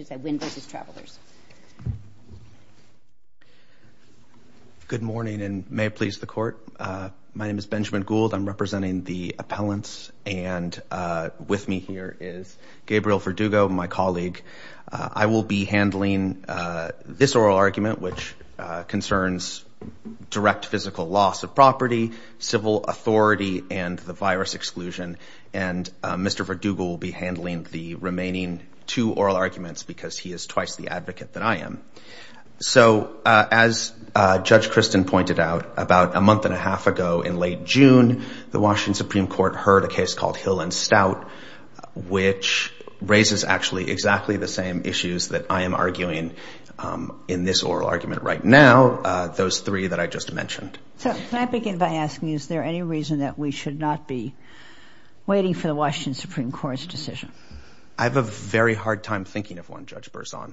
Nguyen v. Travelers. I'm representing the appellants and with me here is Gabriel Verdugo, my colleague. I will be handling this oral argument, which concerns direct physical loss of property, civil authority, and the virus exclusion. And Mr. Verdugo will be handling the remaining two oral arguments because he is twice the advocate that I am. So as Judge Kristen pointed out, about a month and a half ago in late June, the Washington Supreme Court heard a case called Hill and Stout, which raises actually exactly the same issues that I am arguing in this oral argument right now, those three that I just mentioned. So can I begin by asking, is there any reason that we should not be waiting for the Washington Supreme Court's decision? I have a very hard time thinking of one, Judge Berzon.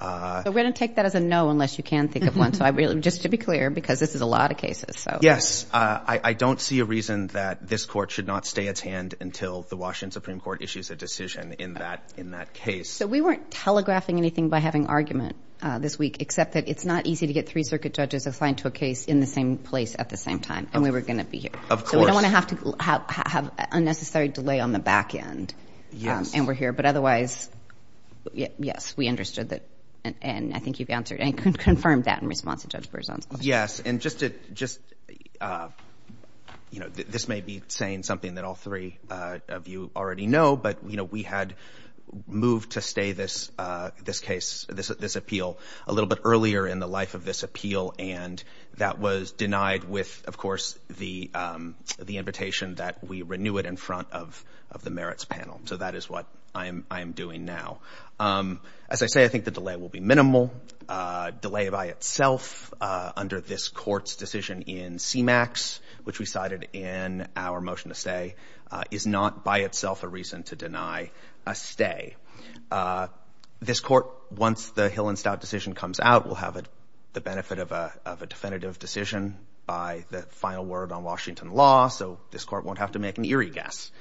We're going to take that as a no unless you can think of one. Just to be clear, because this is a lot of cases. Yes, I don't see a reason that this court should not stay its hand until the Washington Supreme Court issues a decision in that case. So we weren't telegraphing anything by having argument this week, except that it's not easy to get three circuit judges assigned to a case in the same place at the same time. And we were going to be here. Of course. So we don't want to have to have unnecessary delay on the back end. Yes. And we're here. But otherwise, yes, we understood that. And I think you've answered and confirmed that in response to Judge Berzon's question. Yes. And just, you know, this may be saying something that all three of you already know, but, you know, we had moved to stay this case, this appeal, a little bit earlier in the life of this appeal. And that was denied with, of course, the invitation that we renew it in front of the merits panel. So that is what I am doing now. As I say, I think the delay will be minimal. Delay by itself under this court's decision in CMAX, which we cited in our motion to stay, is not by itself a reason to deny a stay. This court, once the Hillenstau decision comes out, will have the benefit of a definitive decision by the final word on Washington law. So this court won't have to make an eerie guess.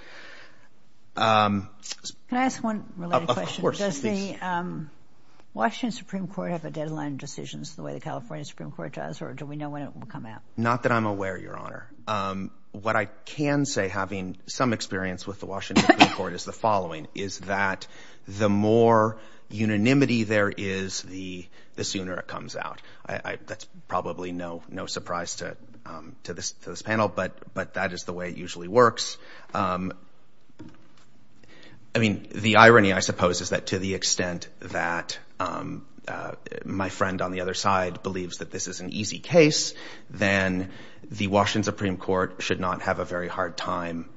Can I ask one related question? Of course. Does the Washington Supreme Court have a deadline of decisions the way the California Supreme Court does, or do we know when it will come out? Not that I'm aware, Your Honor. What I can say, having some experience with the Washington Supreme Court, is the following, is that the more unanimity there is, the sooner it comes out. That's probably no surprise to this panel, but that is the way it usually works. I mean, the irony, I suppose, is that to the extent that my friend on the other side believes that this is an easy case, then the Washington Supreme Court should not have a very hard time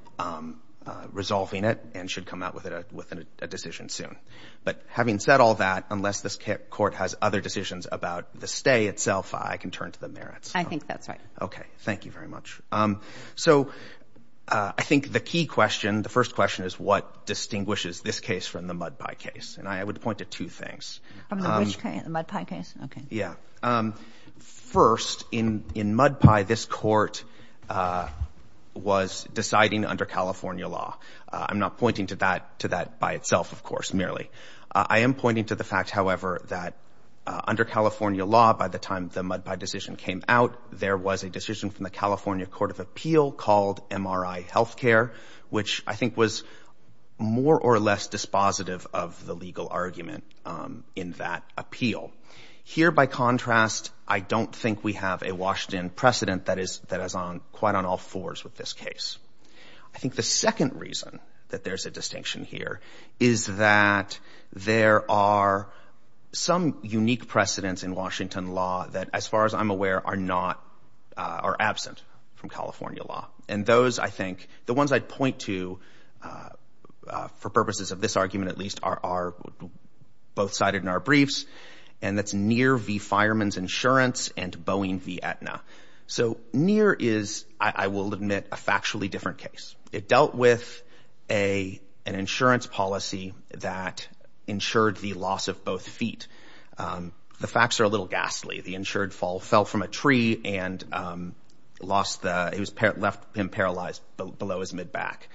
resolving it and should come out with a decision soon. But having said all that, unless this court has other decisions about the stay itself, I can turn to the merits. I think that's right. Okay. Thank you very much. So I think the key question, the first question, is what distinguishes this case from the Mud Pie case? And I would point to two things. From the which case? The Mud Pie case? Okay. Yeah. First, in Mud Pie, this court was deciding under California law. I'm not pointing to that by itself, of course, merely. I am pointing to the fact, however, that under California law, by the time the Mud Pie decision came out, there was a decision from the California Court of Appeal called MRI healthcare, which I think was more or less dispositive of the legal argument in that appeal. Here, by contrast, I don't think we have a Washington precedent that is quite on all fours with this case. I think the second reason that there's a distinction here is that there are some unique precedents in Washington law that, as far as I'm aware, are absent from California law. And those, I think, the ones I'd point to, for purposes of this argument at least, are both cited in our briefs, and that's NEAR v. Fireman's Insurance and Boeing v. Aetna. So NEAR is, I will admit, a factually different case. It dealt with an insurance policy that insured the loss of both feet. The facts are a little ghastly. The insured fell from a tree and left him paralyzed below his mid-back.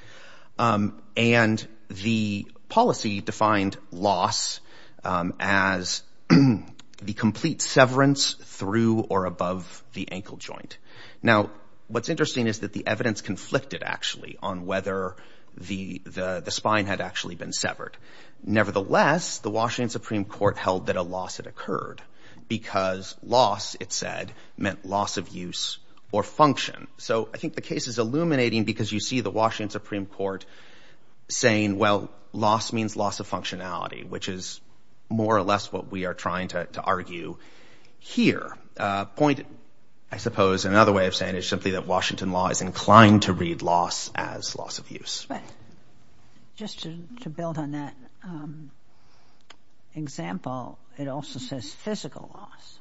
And the policy defined loss as the complete severance through or above the ankle joint. Now, what's interesting is that the evidence conflicted, actually, on whether the spine had actually been severed. Nevertheless, the Washington Supreme Court held that a loss had occurred because loss, it said, meant loss of use or function. So I think the case is illuminating because you see the Washington Supreme Court saying, well, loss means loss of functionality, which is more or less what we are trying to argue here. A point, I suppose, another way of saying it is simply that Washington law is inclined to read loss as loss of use. But just to build on that example, it also says physical loss.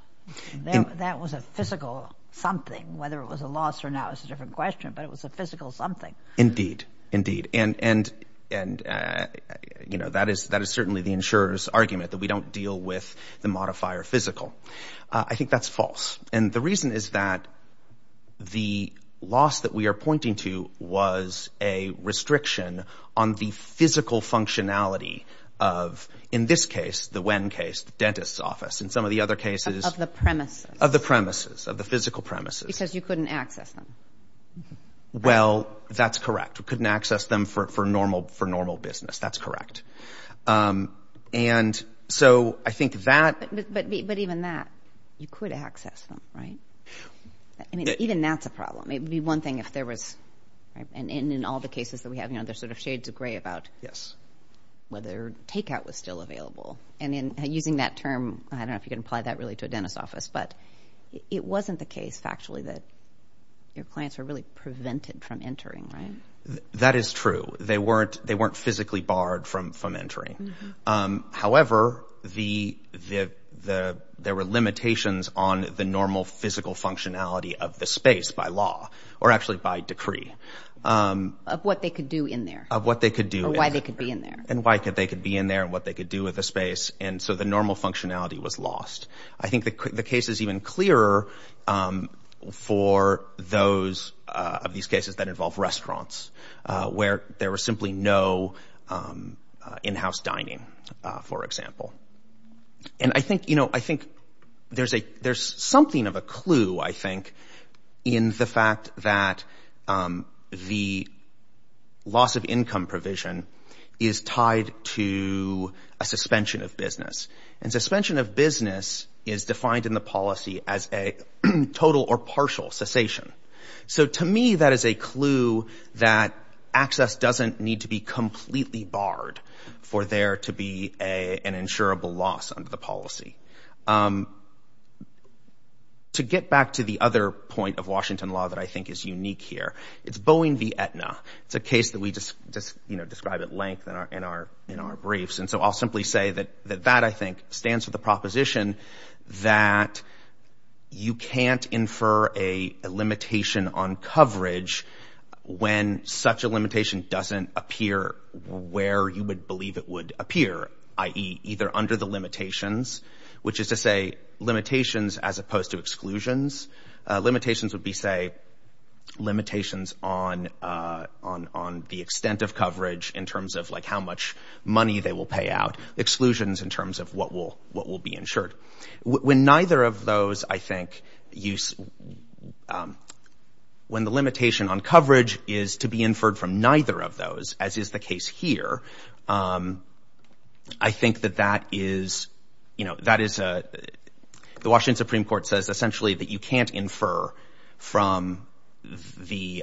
That was a physical something. Whether it was a loss or not is a different question, but it was a physical something. Indeed, indeed. And, you know, that is certainly the insurer's argument, that we don't deal with the modifier physical. I think that's false. And the reason is that the loss that we are pointing to was a restriction on the physical functionality of, in this case, the WEN case, the dentist's office, and some of the other cases. Of the premises. Of the premises, of the physical premises. Because you couldn't access them. Well, that's correct. We couldn't access them for normal business. That's correct. And so I think that. But even that, you could access them, right? I mean, even that's a problem. It would be one thing if there was. And in all the cases that we have, you know, there's sort of shades of gray about whether takeout was still available. And using that term, I don't know if you can apply that really to a dentist's office, but it wasn't the case, factually, that your clients were really prevented from entering, right? That is true. They weren't physically barred from entering. However, there were limitations on the normal physical functionality of the space by law, or actually by decree. Of what they could do in there. Of what they could do in there. Or why they could be in there. And why they could be in there and what they could do with the space. And so the normal functionality was lost. I think the case is even clearer for those of these cases that involve restaurants, where there was simply no in-house dining, for example. And I think, you know, I think there's something of a clue, I think, in the fact that the loss of income provision is tied to a suspension of business. And suspension of business is defined in the policy as a total or partial cessation. So to me, that is a clue that access doesn't need to be completely barred for there to be an insurable loss under the policy. To get back to the other point of Washington law that I think is unique here, it's Boeing v. Aetna. It's a case that we just, you know, describe at length in our briefs. And so I'll simply say that that, I think, stands for the proposition that you can't infer a limitation on coverage when such a limitation doesn't appear where you would believe it would appear, i.e., either under the limitations, which is to say limitations as opposed to exclusions. Limitations would be, say, limitations on the extent of coverage in terms of, like, how much money they will pay out, exclusions in terms of what will be insured. When neither of those, I think, when the limitation on coverage is to be inferred from neither of those, as is the case here, I think that that is, you know, that is a, the Washington Supreme Court says, essentially, that you can't infer from the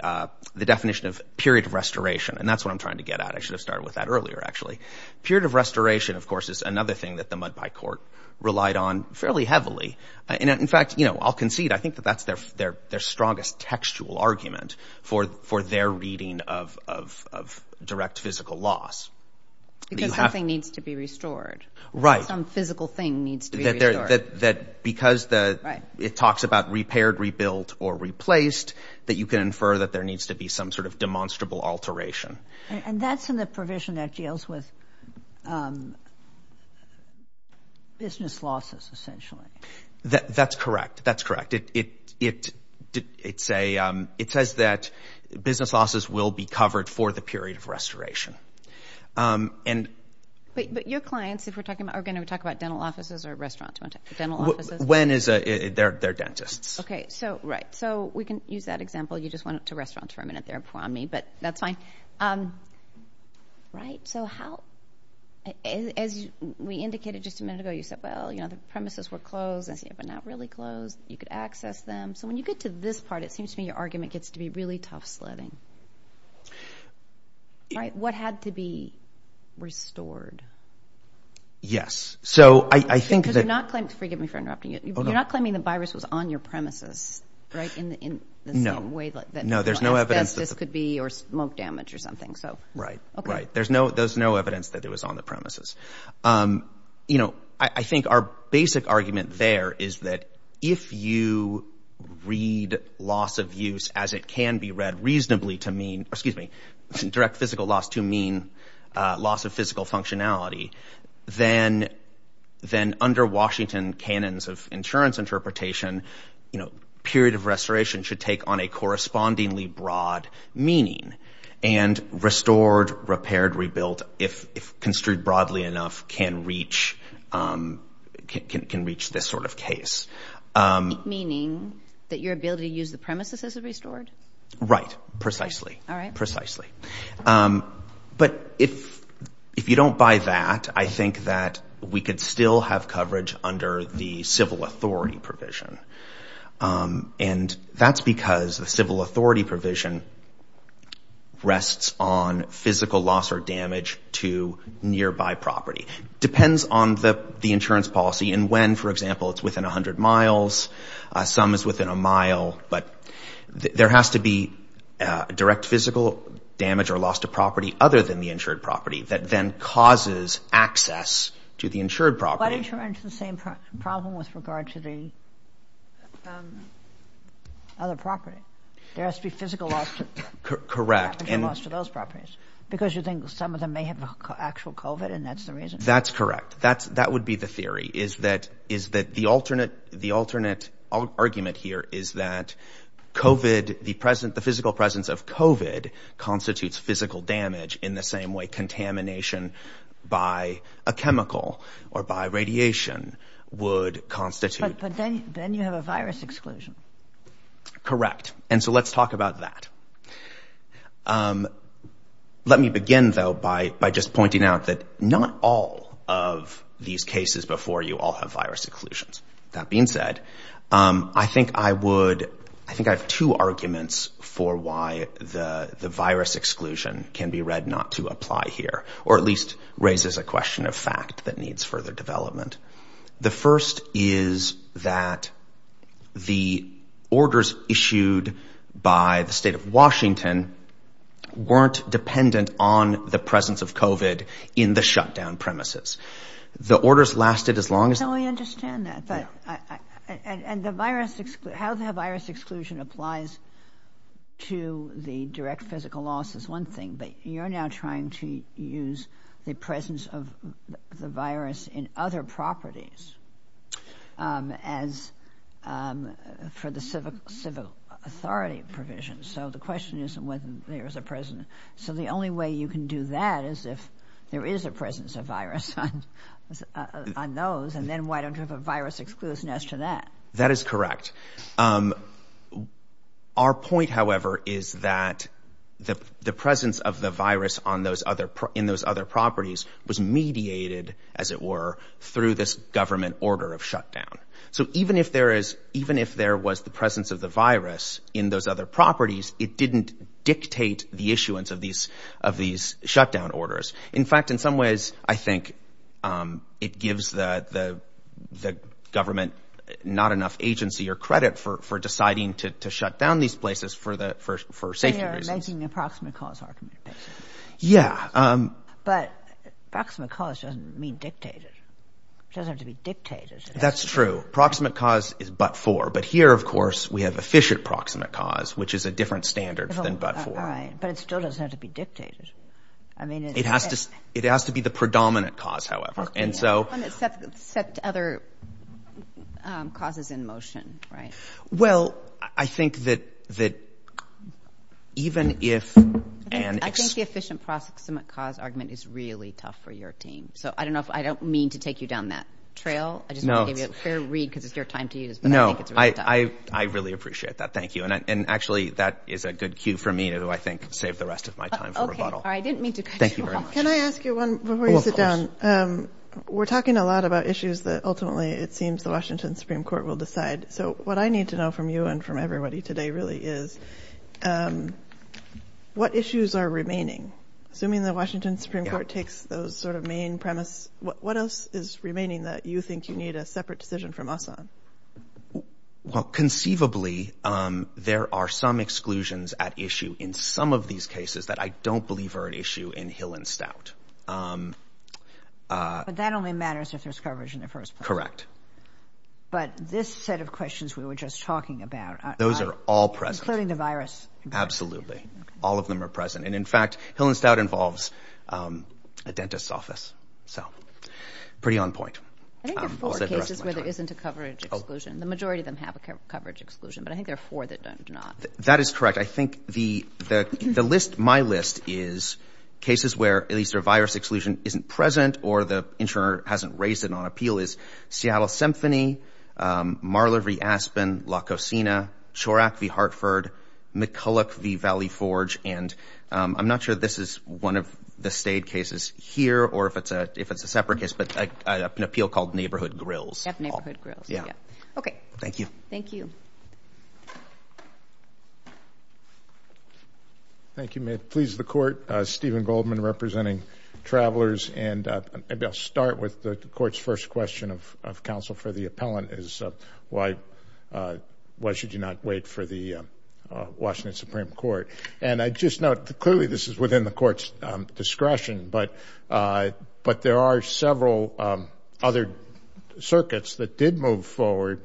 definition of period of restoration. And that's what I'm trying to get at. I should have started with that earlier, actually. Period of restoration, of course, is another thing that the Mud Pie Court relied on fairly heavily. And in fact, you know, I'll concede, I think that that's their strongest textual argument for their reading of direct physical loss. Because something needs to be restored. Right. Some physical thing needs to be restored. That because the, it talks about repaired, rebuilt or replaced, that you can infer that there needs to be some sort of demonstrable alteration. And that's in the provision that deals with business losses, essentially. That's correct. That's correct. It says that business losses will be covered for the period of restoration. But your clients, if we're talking about, are going to talk about dental offices or restaurants, dental offices? When is a, they're dentists. Okay. So, right. So, we can use that example. You just went to restaurants for a minute there before me, but that's fine. Right. So, how, as we indicated just a minute ago, you said, well, you know, the premises were closed, but not really closed. You could access them. So, when you get to this part, it seems to me your argument gets to be really tough sledding. Right. What had to be restored? Yes. So, I think that. Because you're not claiming, forgive me for interrupting you. You're not claiming the virus was on your premises, right, in the same way that asbestos could be or smoke damage or something. Right. Okay. There's no evidence that it was on the premises. You know, I think our basic argument there is that if you read loss of use as it can be read reasonably to mean, excuse me, direct physical loss to mean loss of physical functionality, then under Washington canons of insurance interpretation, you know, should take on a correspondingly broad meaning. And restored, repaired, rebuilt, if construed broadly enough, can reach this sort of case. Meaning that your ability to use the premises is restored? Right. Precisely. All right. Precisely. But if you don't buy that, I think that we could still have coverage under the civil authority provision. And that's because the civil authority provision rests on physical loss or damage to nearby property. Depends on the insurance policy and when. For example, it's within 100 miles. Some is within a mile. But there has to be direct physical damage or loss to property other than the insured property that then causes access to the insured property. But insurance is the same problem with regard to the other property. There has to be physical loss to those properties. Because you think some of them may have actual COVID and that's the reason. That's correct. That would be the theory. The alternate argument here is that the physical presence of COVID constitutes physical damage in the same way contamination by a chemical or by radiation would constitute. But then you have a virus exclusion. Correct. And so let's talk about that. Let me begin, though, by just pointing out that not all of these cases before you all have virus exclusions. That being said, I think I have two arguments for why the virus exclusion can be read not to apply here. Or at least raises a question of fact that needs further development. The first is that the orders issued by the state of Washington weren't dependent on the presence of COVID in the shutdown premises. The orders lasted as long as. I understand that. But and the virus, how the virus exclusion applies to the direct physical loss is one thing. But you're now trying to use the presence of the virus in other properties as for the civic civic authority provision. So the question isn't whether there is a president. So the only way you can do that is if there is a presence of virus on those. And then why don't you have a virus exclusion as to that? That is correct. Our point, however, is that the presence of the virus on those other in those other properties was mediated, as it were, through this government order of shutdown. So even if there is even if there was the presence of the virus in those other properties, it didn't dictate the issuance of these of these shutdown orders. In fact, in some ways, I think it gives the the the government not enough agency or credit for for deciding to shut down these places for the first for safety. They are making the proximate cause argument. Yeah. But proximate cause doesn't mean dictated. It doesn't have to be dictated. That's true. Proximate cause is but for. But here, of course, we have efficient proximate cause, which is a different standard than but for. But it still doesn't have to be dictated. I mean, it has to it has to be the predominant cause, however. And so set other causes in motion. Right. Well, I think that that even if and I think the efficient proximate cause argument is really tough for your team. So I don't know if I don't mean to take you down that trail. I just gave you a fair read because it's your time to use. No, I. I really appreciate that. Thank you. And actually, that is a good cue for me to, I think, save the rest of my time. OK. I didn't mean to. Thank you. Can I ask you one before you sit down? We're talking a lot about issues that ultimately it seems the Washington Supreme Court will decide. So what I need to know from you and from everybody today really is what issues are remaining? Assuming the Washington Supreme Court takes those sort of main premise. What else is remaining that you think you need a separate decision from us on? Well, conceivably, there are some exclusions at issue in some of these cases that I don't believe are an issue in Hill and Stout. But that only matters if there's coverage in the first place. Correct. But this set of questions we were just talking about. Those are all present. Including the virus. Absolutely. All of them are present. And in fact, Hill and Stout involves a dentist's office. So pretty on point. I think there are four cases where there isn't a coverage exclusion. The majority of them have a coverage exclusion. But I think there are four that do not. That is correct. I think the list, my list, is cases where at least a virus exclusion isn't present or the insurer hasn't raised it on appeal is Seattle Symphony, Marler v. Aspen, La Cocina, Chorack v. Hartford, McCulloch v. Valley Forge. And I'm not sure this is one of the stayed cases here or if it's a separate case. But an appeal called Neighborhood Grills. Neighborhood Grills. Yeah. Okay. Thank you. Thank you. Thank you. May it please the Court. Stephen Goldman representing Travelers. And maybe I'll start with the Court's first question of counsel for the appellant is why should you not wait for the Washington Supreme Court? And I just note clearly this is within the Court's discretion. But there are several other circuits that did move forward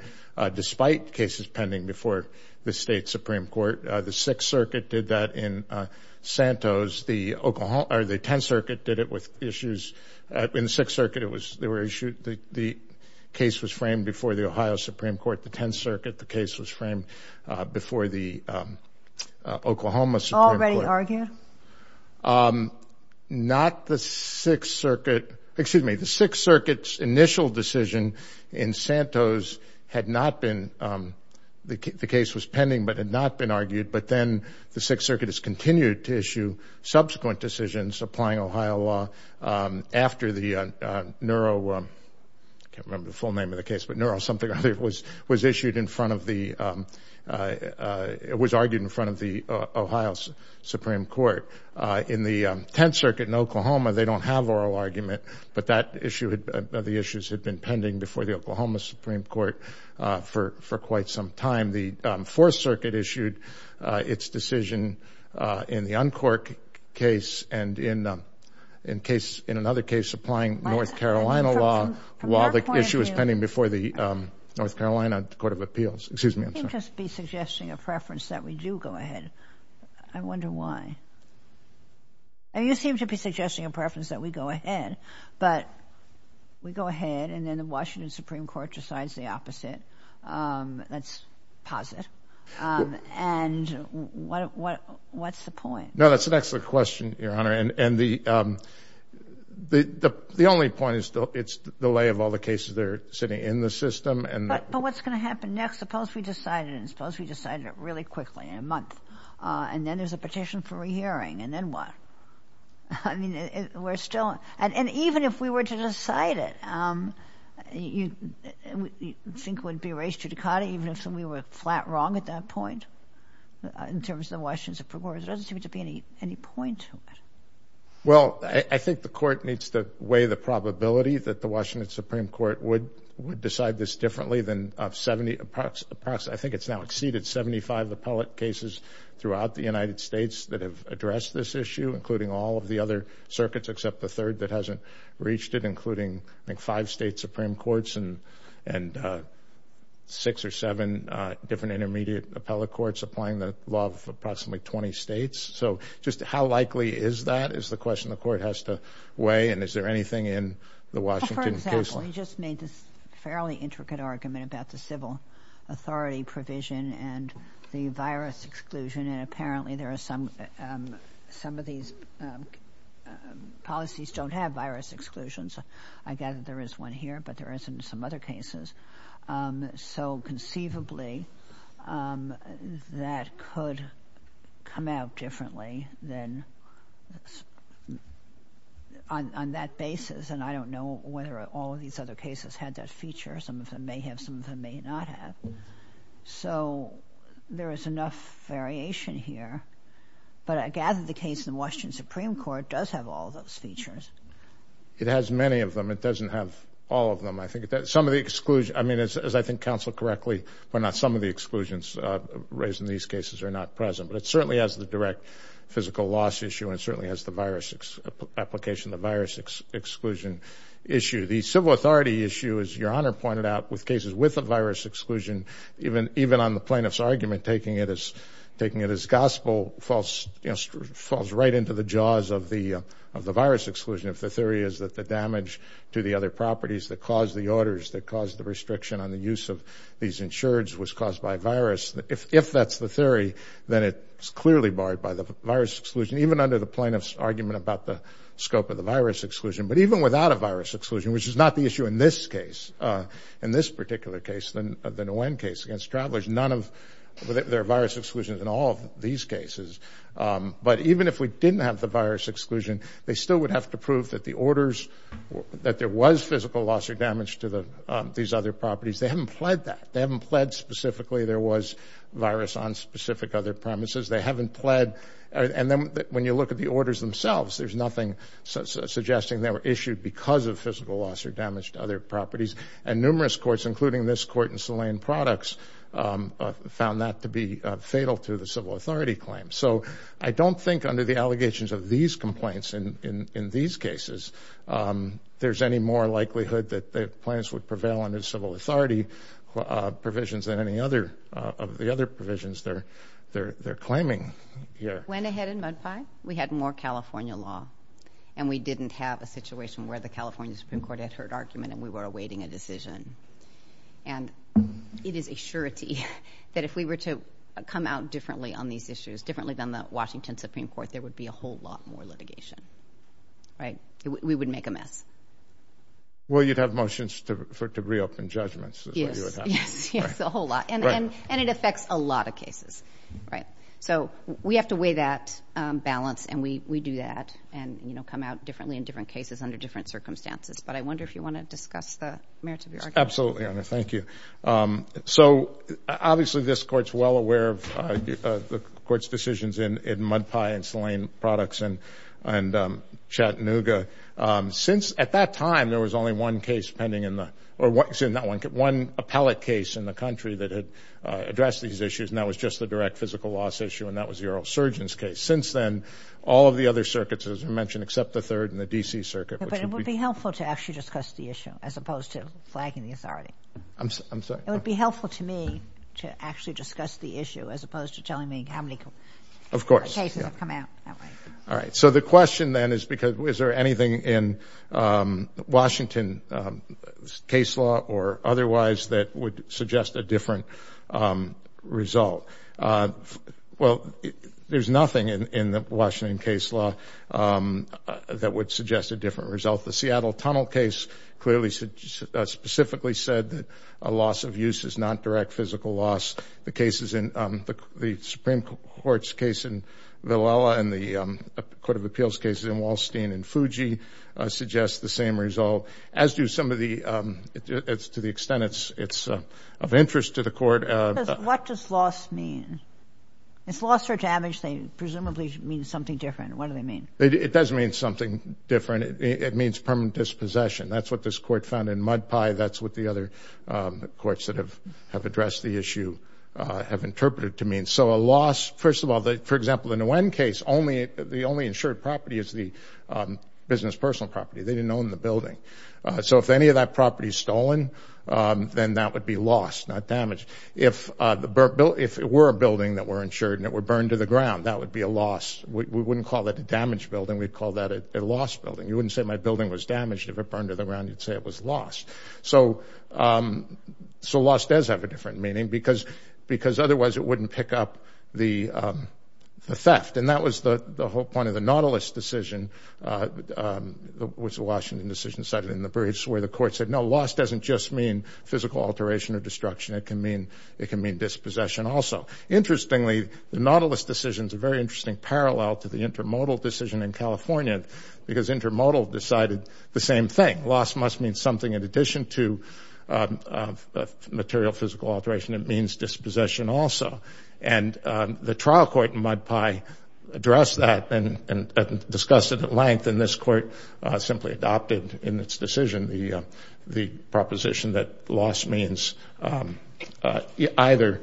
despite cases pending before the State Supreme Court. The Sixth Circuit did that in Santos. The Tenth Circuit did it with issues. In the Sixth Circuit, there were issues. The case was framed before the Ohio Supreme Court. The Tenth Circuit, the case was framed before the Oklahoma Supreme Court. Already argued? Not the Sixth Circuit. Excuse me. The Sixth Circuit's initial decision in Santos had not been the case was pending but had not been argued. But then the Sixth Circuit has continued to issue subsequent decisions applying Ohio law after the Neuro, I can't remember the full name of the case, but Neuro something or other was argued in front of the Ohio Supreme Court. In the Tenth Circuit in Oklahoma, they don't have oral argument. But the issues had been pending before the Oklahoma Supreme Court for quite some time. The Fourth Circuit issued its decision in the Uncork case and in another case applying North Carolina law while the issue was pending before the North Carolina Court of Appeals. Excuse me, I'm sorry. You seem to be suggesting a preference that we do go ahead. I wonder why. You seem to be suggesting a preference that we go ahead. But we go ahead and then the Washington Supreme Court decides the opposite. That's positive. And what's the point? No, that's an excellent question, Your Honor. And the only point is it's the lay of all the cases that are sitting in the system. But what's going to happen next? Suppose we decided it and suppose we decided it really quickly in a month. And then there's a petition for a re-hearing and then what? I mean, we're still and even if we were to decide it, you think it would be a race to Ducati even if we were flat wrong at that point in terms of the Washington Supreme Court? There doesn't seem to be any point to it. Well, I think the court needs to weigh the probability that the Washington Supreme Court would decide this differently than 70. I think it's now exceeded 75 appellate cases throughout the United States that have addressed this issue, including all of the other circuits except the third that hasn't reached it, including five state Supreme Courts and six or seven different intermediate appellate courts applying the law of approximately 20 states. So just how likely is that is the question the court has to weigh. And is there anything in the Washington case? For example, you just made this fairly intricate argument about the civil authority provision and the virus exclusion. And apparently there are some of these policies don't have virus exclusions. I gather there is one here, but there is in some other cases. So conceivably that could come out differently than on that basis. And I don't know whether all of these other cases had that feature. Some of them may have, some of them may not have. So there is enough variation here. But I gather the case in the Washington Supreme Court does have all of those features. It has many of them. It doesn't have all of them. I think some of the exclusion, I mean, as I think counseled correctly, but not some of the exclusions raised in these cases are not present. But it certainly has the direct physical loss issue and it certainly has the virus application, the virus exclusion issue. The civil authority issue, as Your Honor pointed out, with cases with a virus exclusion, even on the plaintiff's argument, taking it as gospel, falls right into the jaws of the virus exclusion. If the theory is that the damage to the other properties that caused the orders, that caused the restriction on the use of these insureds was caused by a virus, if that's the theory, then it's clearly barred by the virus exclusion, even under the plaintiff's argument about the scope of the virus exclusion. But even without a virus exclusion, which is not the issue in this case, in this particular case, the Nguyen case against travelers, there are virus exclusions in all of these cases. But even if we didn't have the virus exclusion, they still would have to prove that the orders, that there was physical loss or damage to these other properties. They haven't pled that. They haven't pled specifically there was virus on specific other premises. They haven't pled. And then when you look at the orders themselves, there's nothing suggesting they were issued because of physical loss or damage to other properties. And numerous courts, including this court in Saline Products, found that to be fatal to the civil authority claim. So I don't think under the allegations of these complaints in these cases, there's any more likelihood that the plaintiffs would prevail under civil authority provisions than any of the other provisions they're claiming here. Went ahead and mudpied. We had more California law, and we didn't have a situation where the California Supreme Court had heard argument and we were awaiting a decision. And it is a surety that if we were to come out differently on these issues, differently than the Washington Supreme Court, there would be a whole lot more litigation. Right? We would make a mess. Well, you'd have motions to reopen judgments. Yes, yes, yes, a whole lot. And it affects a lot of cases. So we have to weigh that balance, and we do that, and come out differently in different cases under different circumstances. But I wonder if you want to discuss the merits of your argument. Absolutely, Honor. Thank you. So obviously this Court's well aware of the Court's decisions in Mudpie and Saline Products and Chattanooga. Since at that time there was only one case pending in the – or one appellate case in the country that had addressed these issues, and that was just the direct physical loss issue, and that was the oral surgeons case. Since then, all of the other circuits, as you mentioned, except the third and the D.C. circuit, which would be – But it would be helpful to actually discuss the issue as opposed to flagging the authority. I'm sorry? It would be helpful to me to actually discuss the issue as opposed to telling me how many cases have come out. Of course. All right. All right. So the question then is because – is there anything in Washington's case law or otherwise that would suggest a different result? Well, there's nothing in the Washington case law that would suggest a different result. The Seattle Tunnel case clearly specifically said that a loss of use is not direct physical loss. The cases in – the Supreme Court's case in Villela and the Court of Appeals cases in Wallstein and Fuji suggest the same result, as do some of the – to the extent it's of interest to the Court. What does loss mean? If loss or damage presumably means something different, what do they mean? It does mean something different. It means permanent dispossession. That's what this Court found in Mud Pie. That's what the other courts that have addressed the issue have interpreted to mean. So a loss – first of all, for example, in the Wen case, the only insured property is the business personal property. They didn't own the building. So if any of that property is stolen, then that would be lost, not damaged. If it were a building that were insured and it were burned to the ground, that would be a loss. We wouldn't call it a damaged building. We'd call that a lost building. You wouldn't say my building was damaged. If it burned to the ground, you'd say it was lost. So loss does have a different meaning because otherwise it wouldn't pick up the theft. And that was the whole point of the Nautilus decision, which the Washington decision cited in the Bridge, where the court said, no, loss doesn't just mean physical alteration or destruction. It can mean dispossession also. Interestingly, the Nautilus decision is a very interesting parallel to the intermodal decision in California because intermodal decided the same thing. Loss must mean something in addition to material physical alteration. It means dispossession also. And the trial court in Mud Pie addressed that and discussed it at length, and this court simply adopted in its decision the proposition that loss means either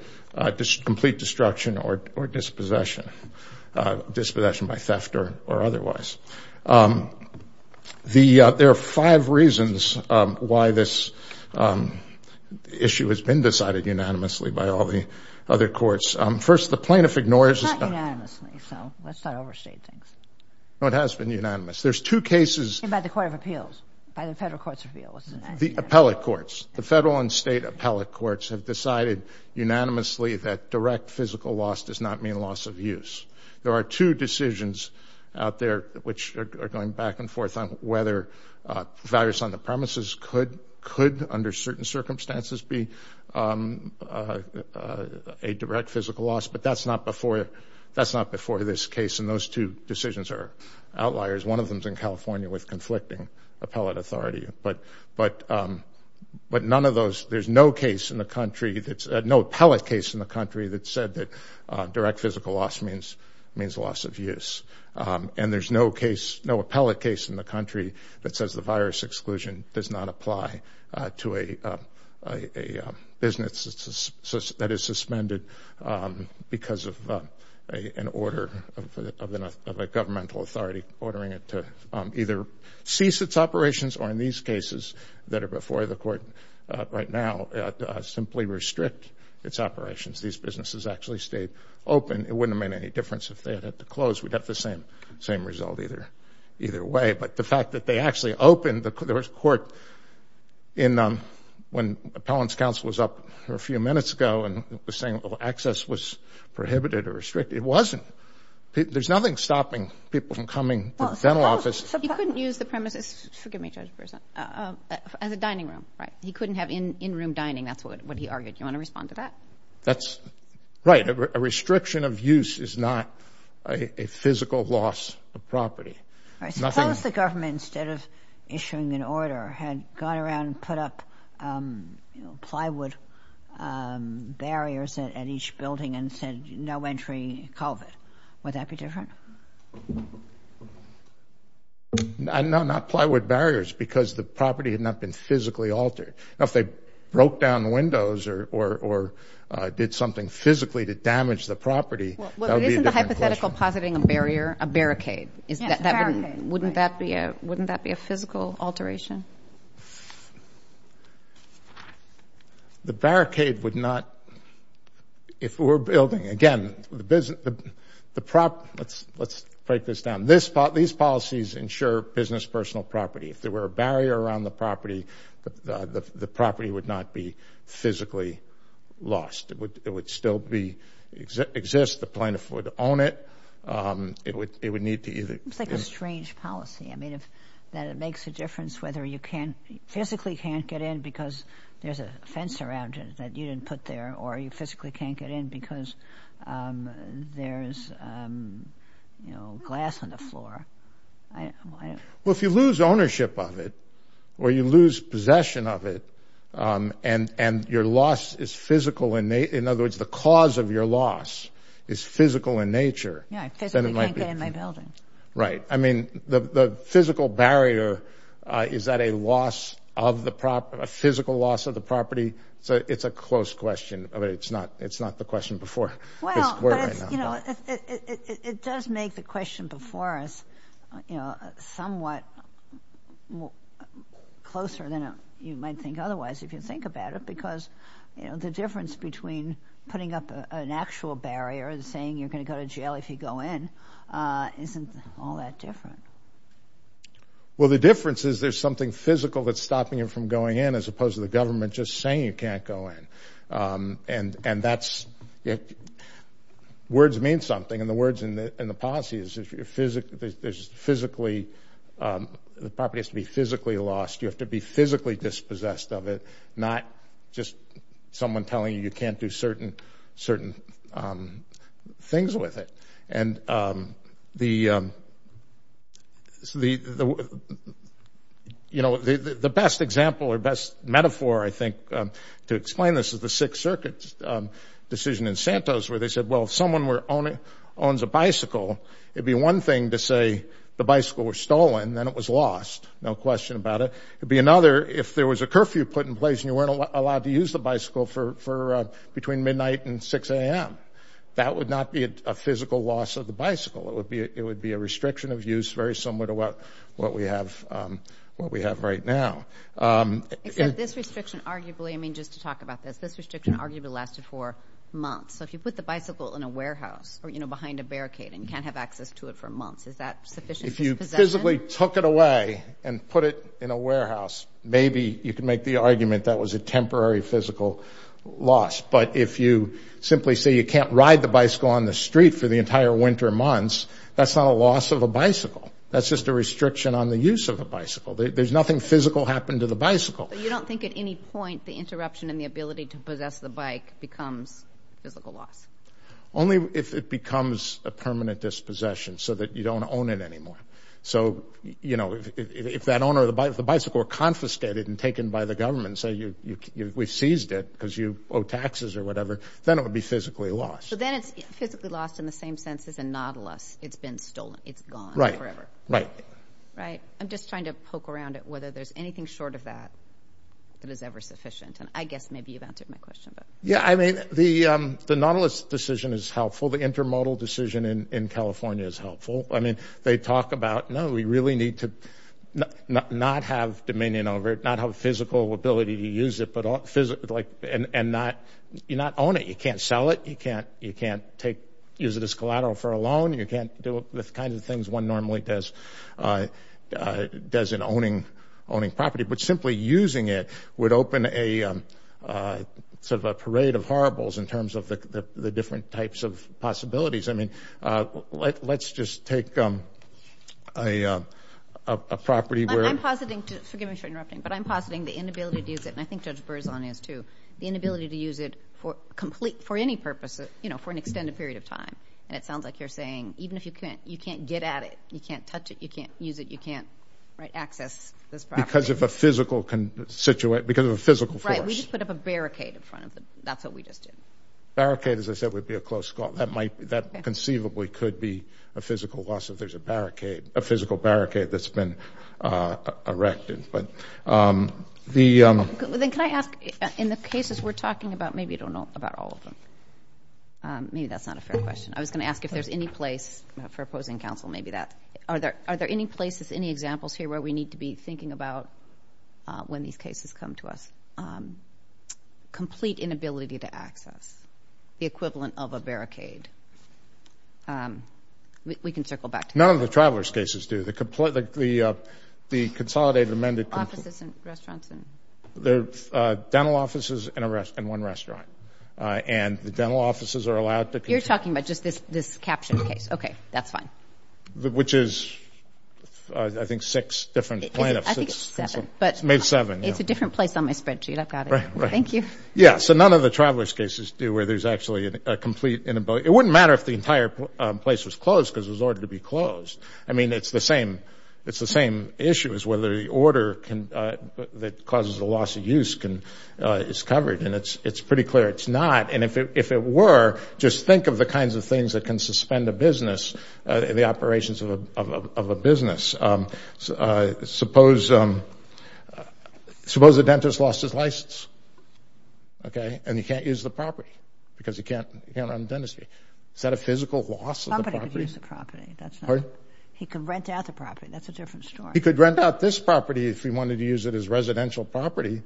complete destruction or dispossession, dispossession by theft or otherwise. There are five reasons why this issue has been decided unanimously by all the other courts. First, the plaintiff ignores this. It's not unanimously, so let's not overstate things. No, it has been unanimous. There's two cases. I'm talking about the Court of Appeals, by the federal court's appeal. The appellate courts, the federal and state appellate courts, have decided unanimously that direct physical loss does not mean loss of use. There are two decisions out there which are going back and forth on whether virus on the premises could, under certain circumstances, be a direct physical loss, but that's not before this case, and those two decisions are outliers. One of them is in California with conflicting appellate authority. But none of those, there's no case in the country, no appellate case in the country that said that direct physical loss means loss of use, and there's no appellate case in the country that says the virus exclusion does not apply to a business that is suspended because of an order of a governmental authority ordering it to either cease its operations or, in these cases that are before the court right now, simply restrict its operations. These businesses actually stayed open. It wouldn't have made any difference if they had had to close. We'd have the same result either way. But the fact that they actually opened the court when appellant's counsel was up a few minutes ago and was saying access was prohibited or restricted, it wasn't. There's nothing stopping people from coming to the dental office. You couldn't use the premises, forgive me, Judge Brewster, as a dining room, right? He couldn't have in-room dining. That's what he argued. Do you want to respond to that? That's right. A restriction of use is not a physical loss of property. Suppose the government, instead of issuing an order, had gone around and put up plywood barriers at each building and said no entry COVID. Would that be different? No, not plywood barriers because the property had not been physically altered. Now, if they broke down windows or did something physically to damage the property, that would be a different question. Isn't the hypothetical positing a barrier, a barricade? Yes, a barricade. Wouldn't that be a physical alteration? The barricade would not, if we're building, again, let's break this down. These policies ensure business personal property. If there were a barrier around the property, the property would not be physically lost. It would still exist. The plaintiff would own it. It's like a strange policy that it makes a difference whether you physically can't get in because there's a fence around it that you didn't put there or you physically can't get in because there's glass on the floor. Well, if you lose ownership of it or you lose possession of it and your loss is physical, in other words, the cause of your loss is physical in nature. Yeah, I physically can't get in my building. Right. I mean, the physical barrier, is that a loss of the property, a physical loss of the property? It's a close question. It's not the question before this court right now. It does make the question before us somewhat closer than you might think otherwise, if you think about it, because the difference between putting up an actual barrier and saying you're going to go to jail if you go in isn't all that different. Well, the difference is there's something physical that's stopping you from going in as opposed to the government just saying you can't go in. And words mean something. And the words in the policy is the property has to be physically lost. You have to be physically dispossessed of it, not just someone telling you you can't do certain things with it. And the best example or best metaphor, I think, to explain this is the Sixth Circuit decision in Santos where they said, well, if someone owns a bicycle, it would be one thing to say the bicycle was stolen and then it was lost, no question about it. It would be another if there was a curfew put in place and you weren't allowed to use the bicycle between midnight and 6 a.m. That would not be a physical loss of the bicycle. It would be a restriction of use very similar to what we have right now. Except this restriction arguably, I mean, just to talk about this, this restriction arguably lasted for months. So if you put the bicycle in a warehouse or, you know, behind a barricade and you can't have access to it for months, is that sufficient dispossession? If you physically took it away and put it in a warehouse, maybe you can make the argument that was a temporary physical loss. But if you simply say you can't ride the bicycle on the street for the entire winter months, that's not a loss of a bicycle. That's just a restriction on the use of a bicycle. There's nothing physical happened to the bicycle. But you don't think at any point the interruption in the ability to possess the bike becomes physical loss? Only if it becomes a permanent dispossession so that you don't own it anymore. So, you know, if that owner of the bicycle were confiscated and taken by the government and say we seized it because you owe taxes or whatever, then it would be physically lost. But then it's physically lost in the same sense as a nautilus. It's been stolen. It's gone forever. Right. Right. I'm just trying to poke around at whether there's anything short of that that is ever sufficient. And I guess maybe you've answered my question. Yeah, I mean, the nautilus decision is helpful. The intermodal decision in California is helpful. I mean, they talk about, no, we really need to not have dominion over it, not have a physical ability to use it and not own it. You can't sell it. You can't use it as collateral for a loan. You can't do the kinds of things one normally does in owning property. But simply using it would open a sort of a parade of horribles in terms of the different types of possibilities. I mean, let's just take a property where. I'm positing, forgive me for interrupting, but I'm positing the inability to use it, and I think Judge Berzon is too, the inability to use it for any purpose for an extended period of time. And it sounds like you're saying even if you can't, you can't get at it. You can't touch it. You can't use it. You can't access this property. Because of a physical force. Right. We just put up a barricade in front of it. That's what we just did. A barricade, as I said, would be a close call. That conceivably could be a physical loss if there's a barricade, a physical barricade that's been erected. Then can I ask, in the cases we're talking about, maybe you don't know about all of them. Maybe that's not a fair question. I was going to ask if there's any place for opposing counsel, maybe that. Are there any places, any examples here where we need to be thinking about when these cases come to us? Complete inability to access, the equivalent of a barricade. We can circle back to counsel. None of the traveler's cases do. The consolidated amended. Offices and restaurants and... There are dental offices and one restaurant. And the dental offices are allowed to... You're talking about just this caption case. Okay. That's fine. Which is, I think, six different plaintiffs. I think it's seven. It's made seven. It's a different place on my spreadsheet. I've got it. Thank you. Yeah, so none of the traveler's cases do where there's actually a complete inability. It wouldn't matter if the entire place was closed because it was ordered to be closed. I mean, it's the same issue as whether the order that causes a loss of use is covered. And it's pretty clear it's not. And if it were, just think of the kinds of things that can suspend a business, the operations of a business. Suppose a dentist lost his license, okay, and he can't use the property because he can't run the dentistry. Is that a physical loss of the property? Somebody could use the property. That's not... Pardon? He could rent out the property. That's a different story. He could rent out this property if he wanted to use it as residential property.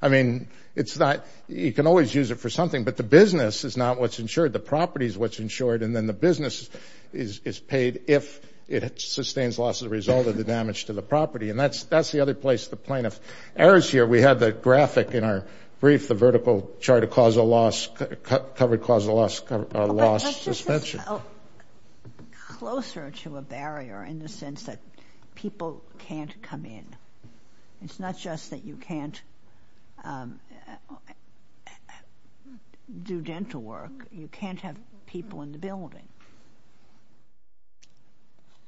I mean, it's not... You can always use it for something, but the business is not what's insured. The property is what's insured, and then the business is paid if it sustains loss as a result of the damage to the property. And that's the other place the plaintiff errs here. We have the graphic in our brief, the vertical chart of covered causal loss suspension. But that's just closer to a barrier in the sense that people can't come in. It's not just that you can't do dental work. You can't have people in the building,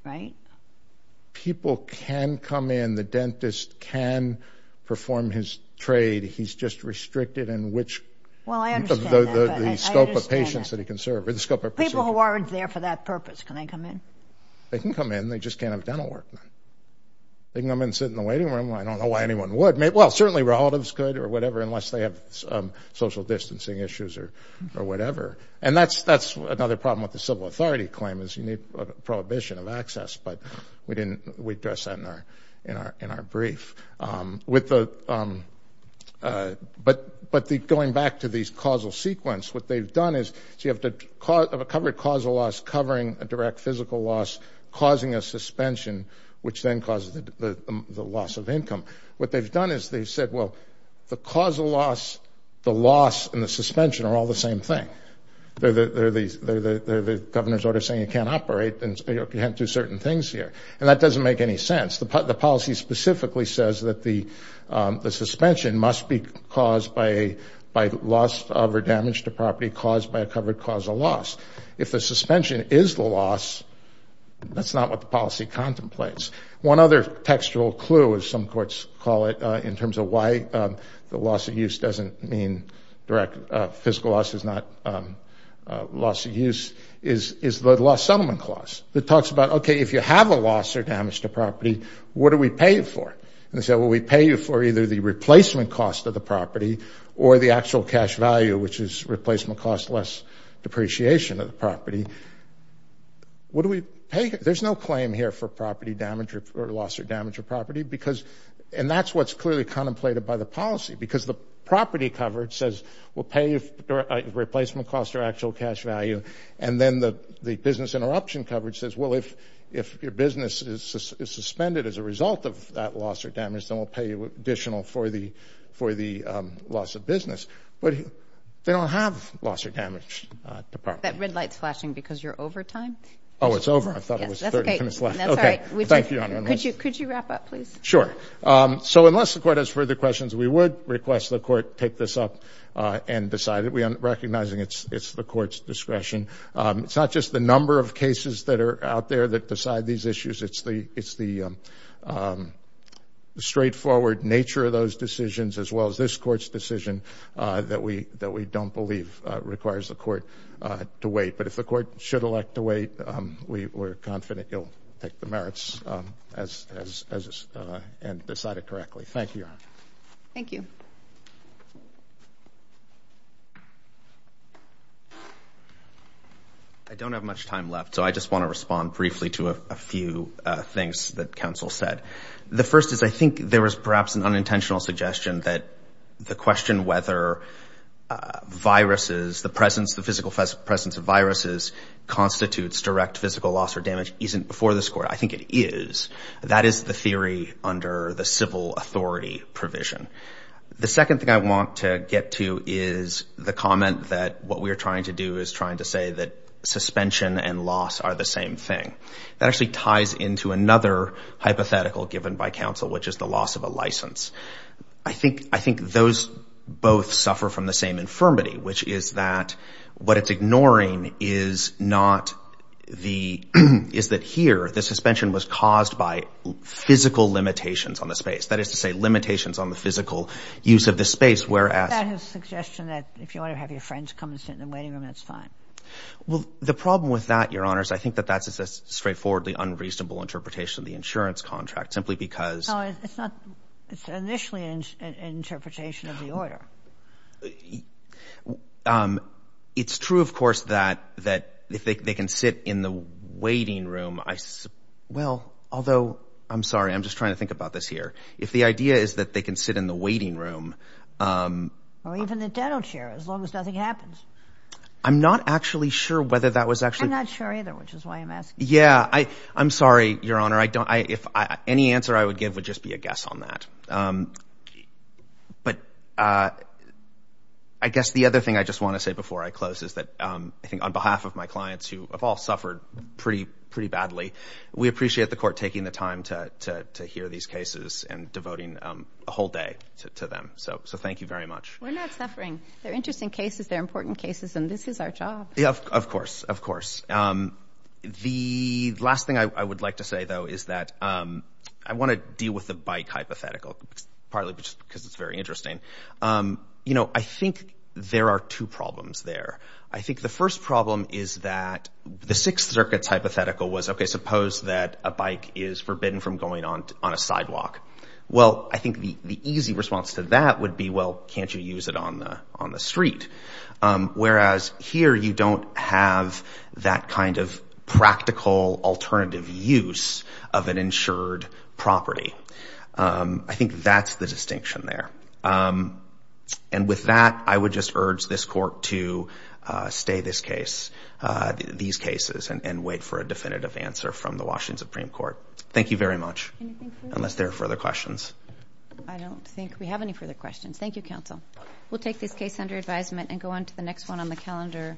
right? People can come in. The dentist can perform his trade. He's just restricted in which... Well, I understand that...... the scope of patients that he can serve or the scope of procedure. People who aren't there for that purpose, can they come in? They can come in. They just can't have dental work then. They can come in and sit in the waiting room. I don't know why anyone would. Well, certainly relatives could or whatever unless they have social distancing issues or whatever. And that's another problem with the civil authority claim is you need a prohibition of access. But we address that in our brief. But going back to these causal sequence, what they've done is...... of a covered causal loss covering a direct physical loss causing a suspension, which then causes the loss of income. What they've done is they've said, well, the causal loss, the loss, and the suspension are all the same thing. They're the governor's order saying you can't operate and you can't do certain things here. And that doesn't make any sense. The policy specifically says that the suspension must be caused by loss of or damage to property caused by a covered causal loss. If the suspension is the loss, that's not what the policy contemplates. One other textual clue, as some courts call it, in terms of why the loss of use doesn't mean direct physical loss is not loss of use...... is the loss settlement clause that talks about, okay, if you have a loss or damage to property, what do we pay you for? And they say, well, we pay you for either the replacement cost of the property or the actual cash value...... which is replacement cost less depreciation of the property. What do we pay? There's no claim here for property damage or loss or damage of property because...... and that's what's clearly contemplated by the policy because the property covered says...... replacement cost or actual cash value. And then the business interruption coverage says, well, if your business is suspended as a result of that loss or damage...... then we'll pay you additional for the loss of business. But, they don't have loss or damage to property. That red light is flashing because you're over time. Oh, it's over. I thought it was the third and finish line. That's all right. Thank you, Your Honor. Could you wrap up, please? Sure. So, unless the Court has further questions, we would request the Court take this up and decide it. We are recognizing it's the Court's discretion. It's not just the number of cases that are out there that decide these issues. It's the straightforward nature of those decisions as well as this Court's decision that we don't believe requires the Court to wait. But, if the Court should elect to wait, we're confident it will take the merits and decide it correctly. Thank you, Your Honor. Thank you. I don't have much time left, so I just want to respond briefly to a few things that counsel said. The first is I think there was perhaps an unintentional suggestion that the question whether viruses...... the presence, the physical presence of viruses constitutes direct physical loss or damage isn't before this Court. I think it is. That is the theory under the civil authority provision. The second thing I want to get to is the comment that what we're trying to do is trying to say that suspension and loss are the same thing. That actually ties into another hypothetical given by counsel, which is the loss of a license. I think those both suffer from the same infirmity, which is that what it's ignoring is not the...... is that here, the suspension was caused by physical limitations on the space. That is to say, limitations on the physical use of the space, whereas... That is a suggestion that if you want to have your friends come and sit in the waiting room, that's fine. Well, the problem with that, Your Honors, I think that that's a straightforwardly unreasonable interpretation of the insurance contract simply because... No, it's not. It's initially an interpretation of the order. It's true, of course, that if they can sit in the waiting room, I... Or even the dental chair, as long as nothing happens. I'm not actually sure whether that was actually... I'm not sure either, which is why I'm asking. Yeah, I'm sorry, Your Honor. I don't... Any answer I would give would just be a guess on that. But, I guess the other thing I just want to say before I close is that I think on behalf of my clients who have all suffered pretty badly... We appreciate the Court taking the time to hear these cases and devoting a whole day to them. So, thank you very much. We're not suffering. They're interesting cases. They're important cases. And, this is our job. Yeah, of course. Of course. The last thing I would like to say, though, is that I want to deal with the bike hypothetical partly because it's very interesting. You know, I think there are two problems there. I think the first problem is that the Sixth Circuit's hypothetical was, okay, suppose that a bike is forbidden from going on a sidewalk. Well, I think the easy response to that would be, well, can't you use it on the street? Whereas, here you don't have that kind of practical alternative use of an insured property. I think that's the distinction there. And, with that, I would just urge this Court to stay these cases and wait for a definitive answer from the Washington Supreme Court. Thank you very much. Anything further? Unless there are further questions. I don't think we have any further questions. Thank you, Counsel. We'll take this case under advisement and go on to the next one on the calendar.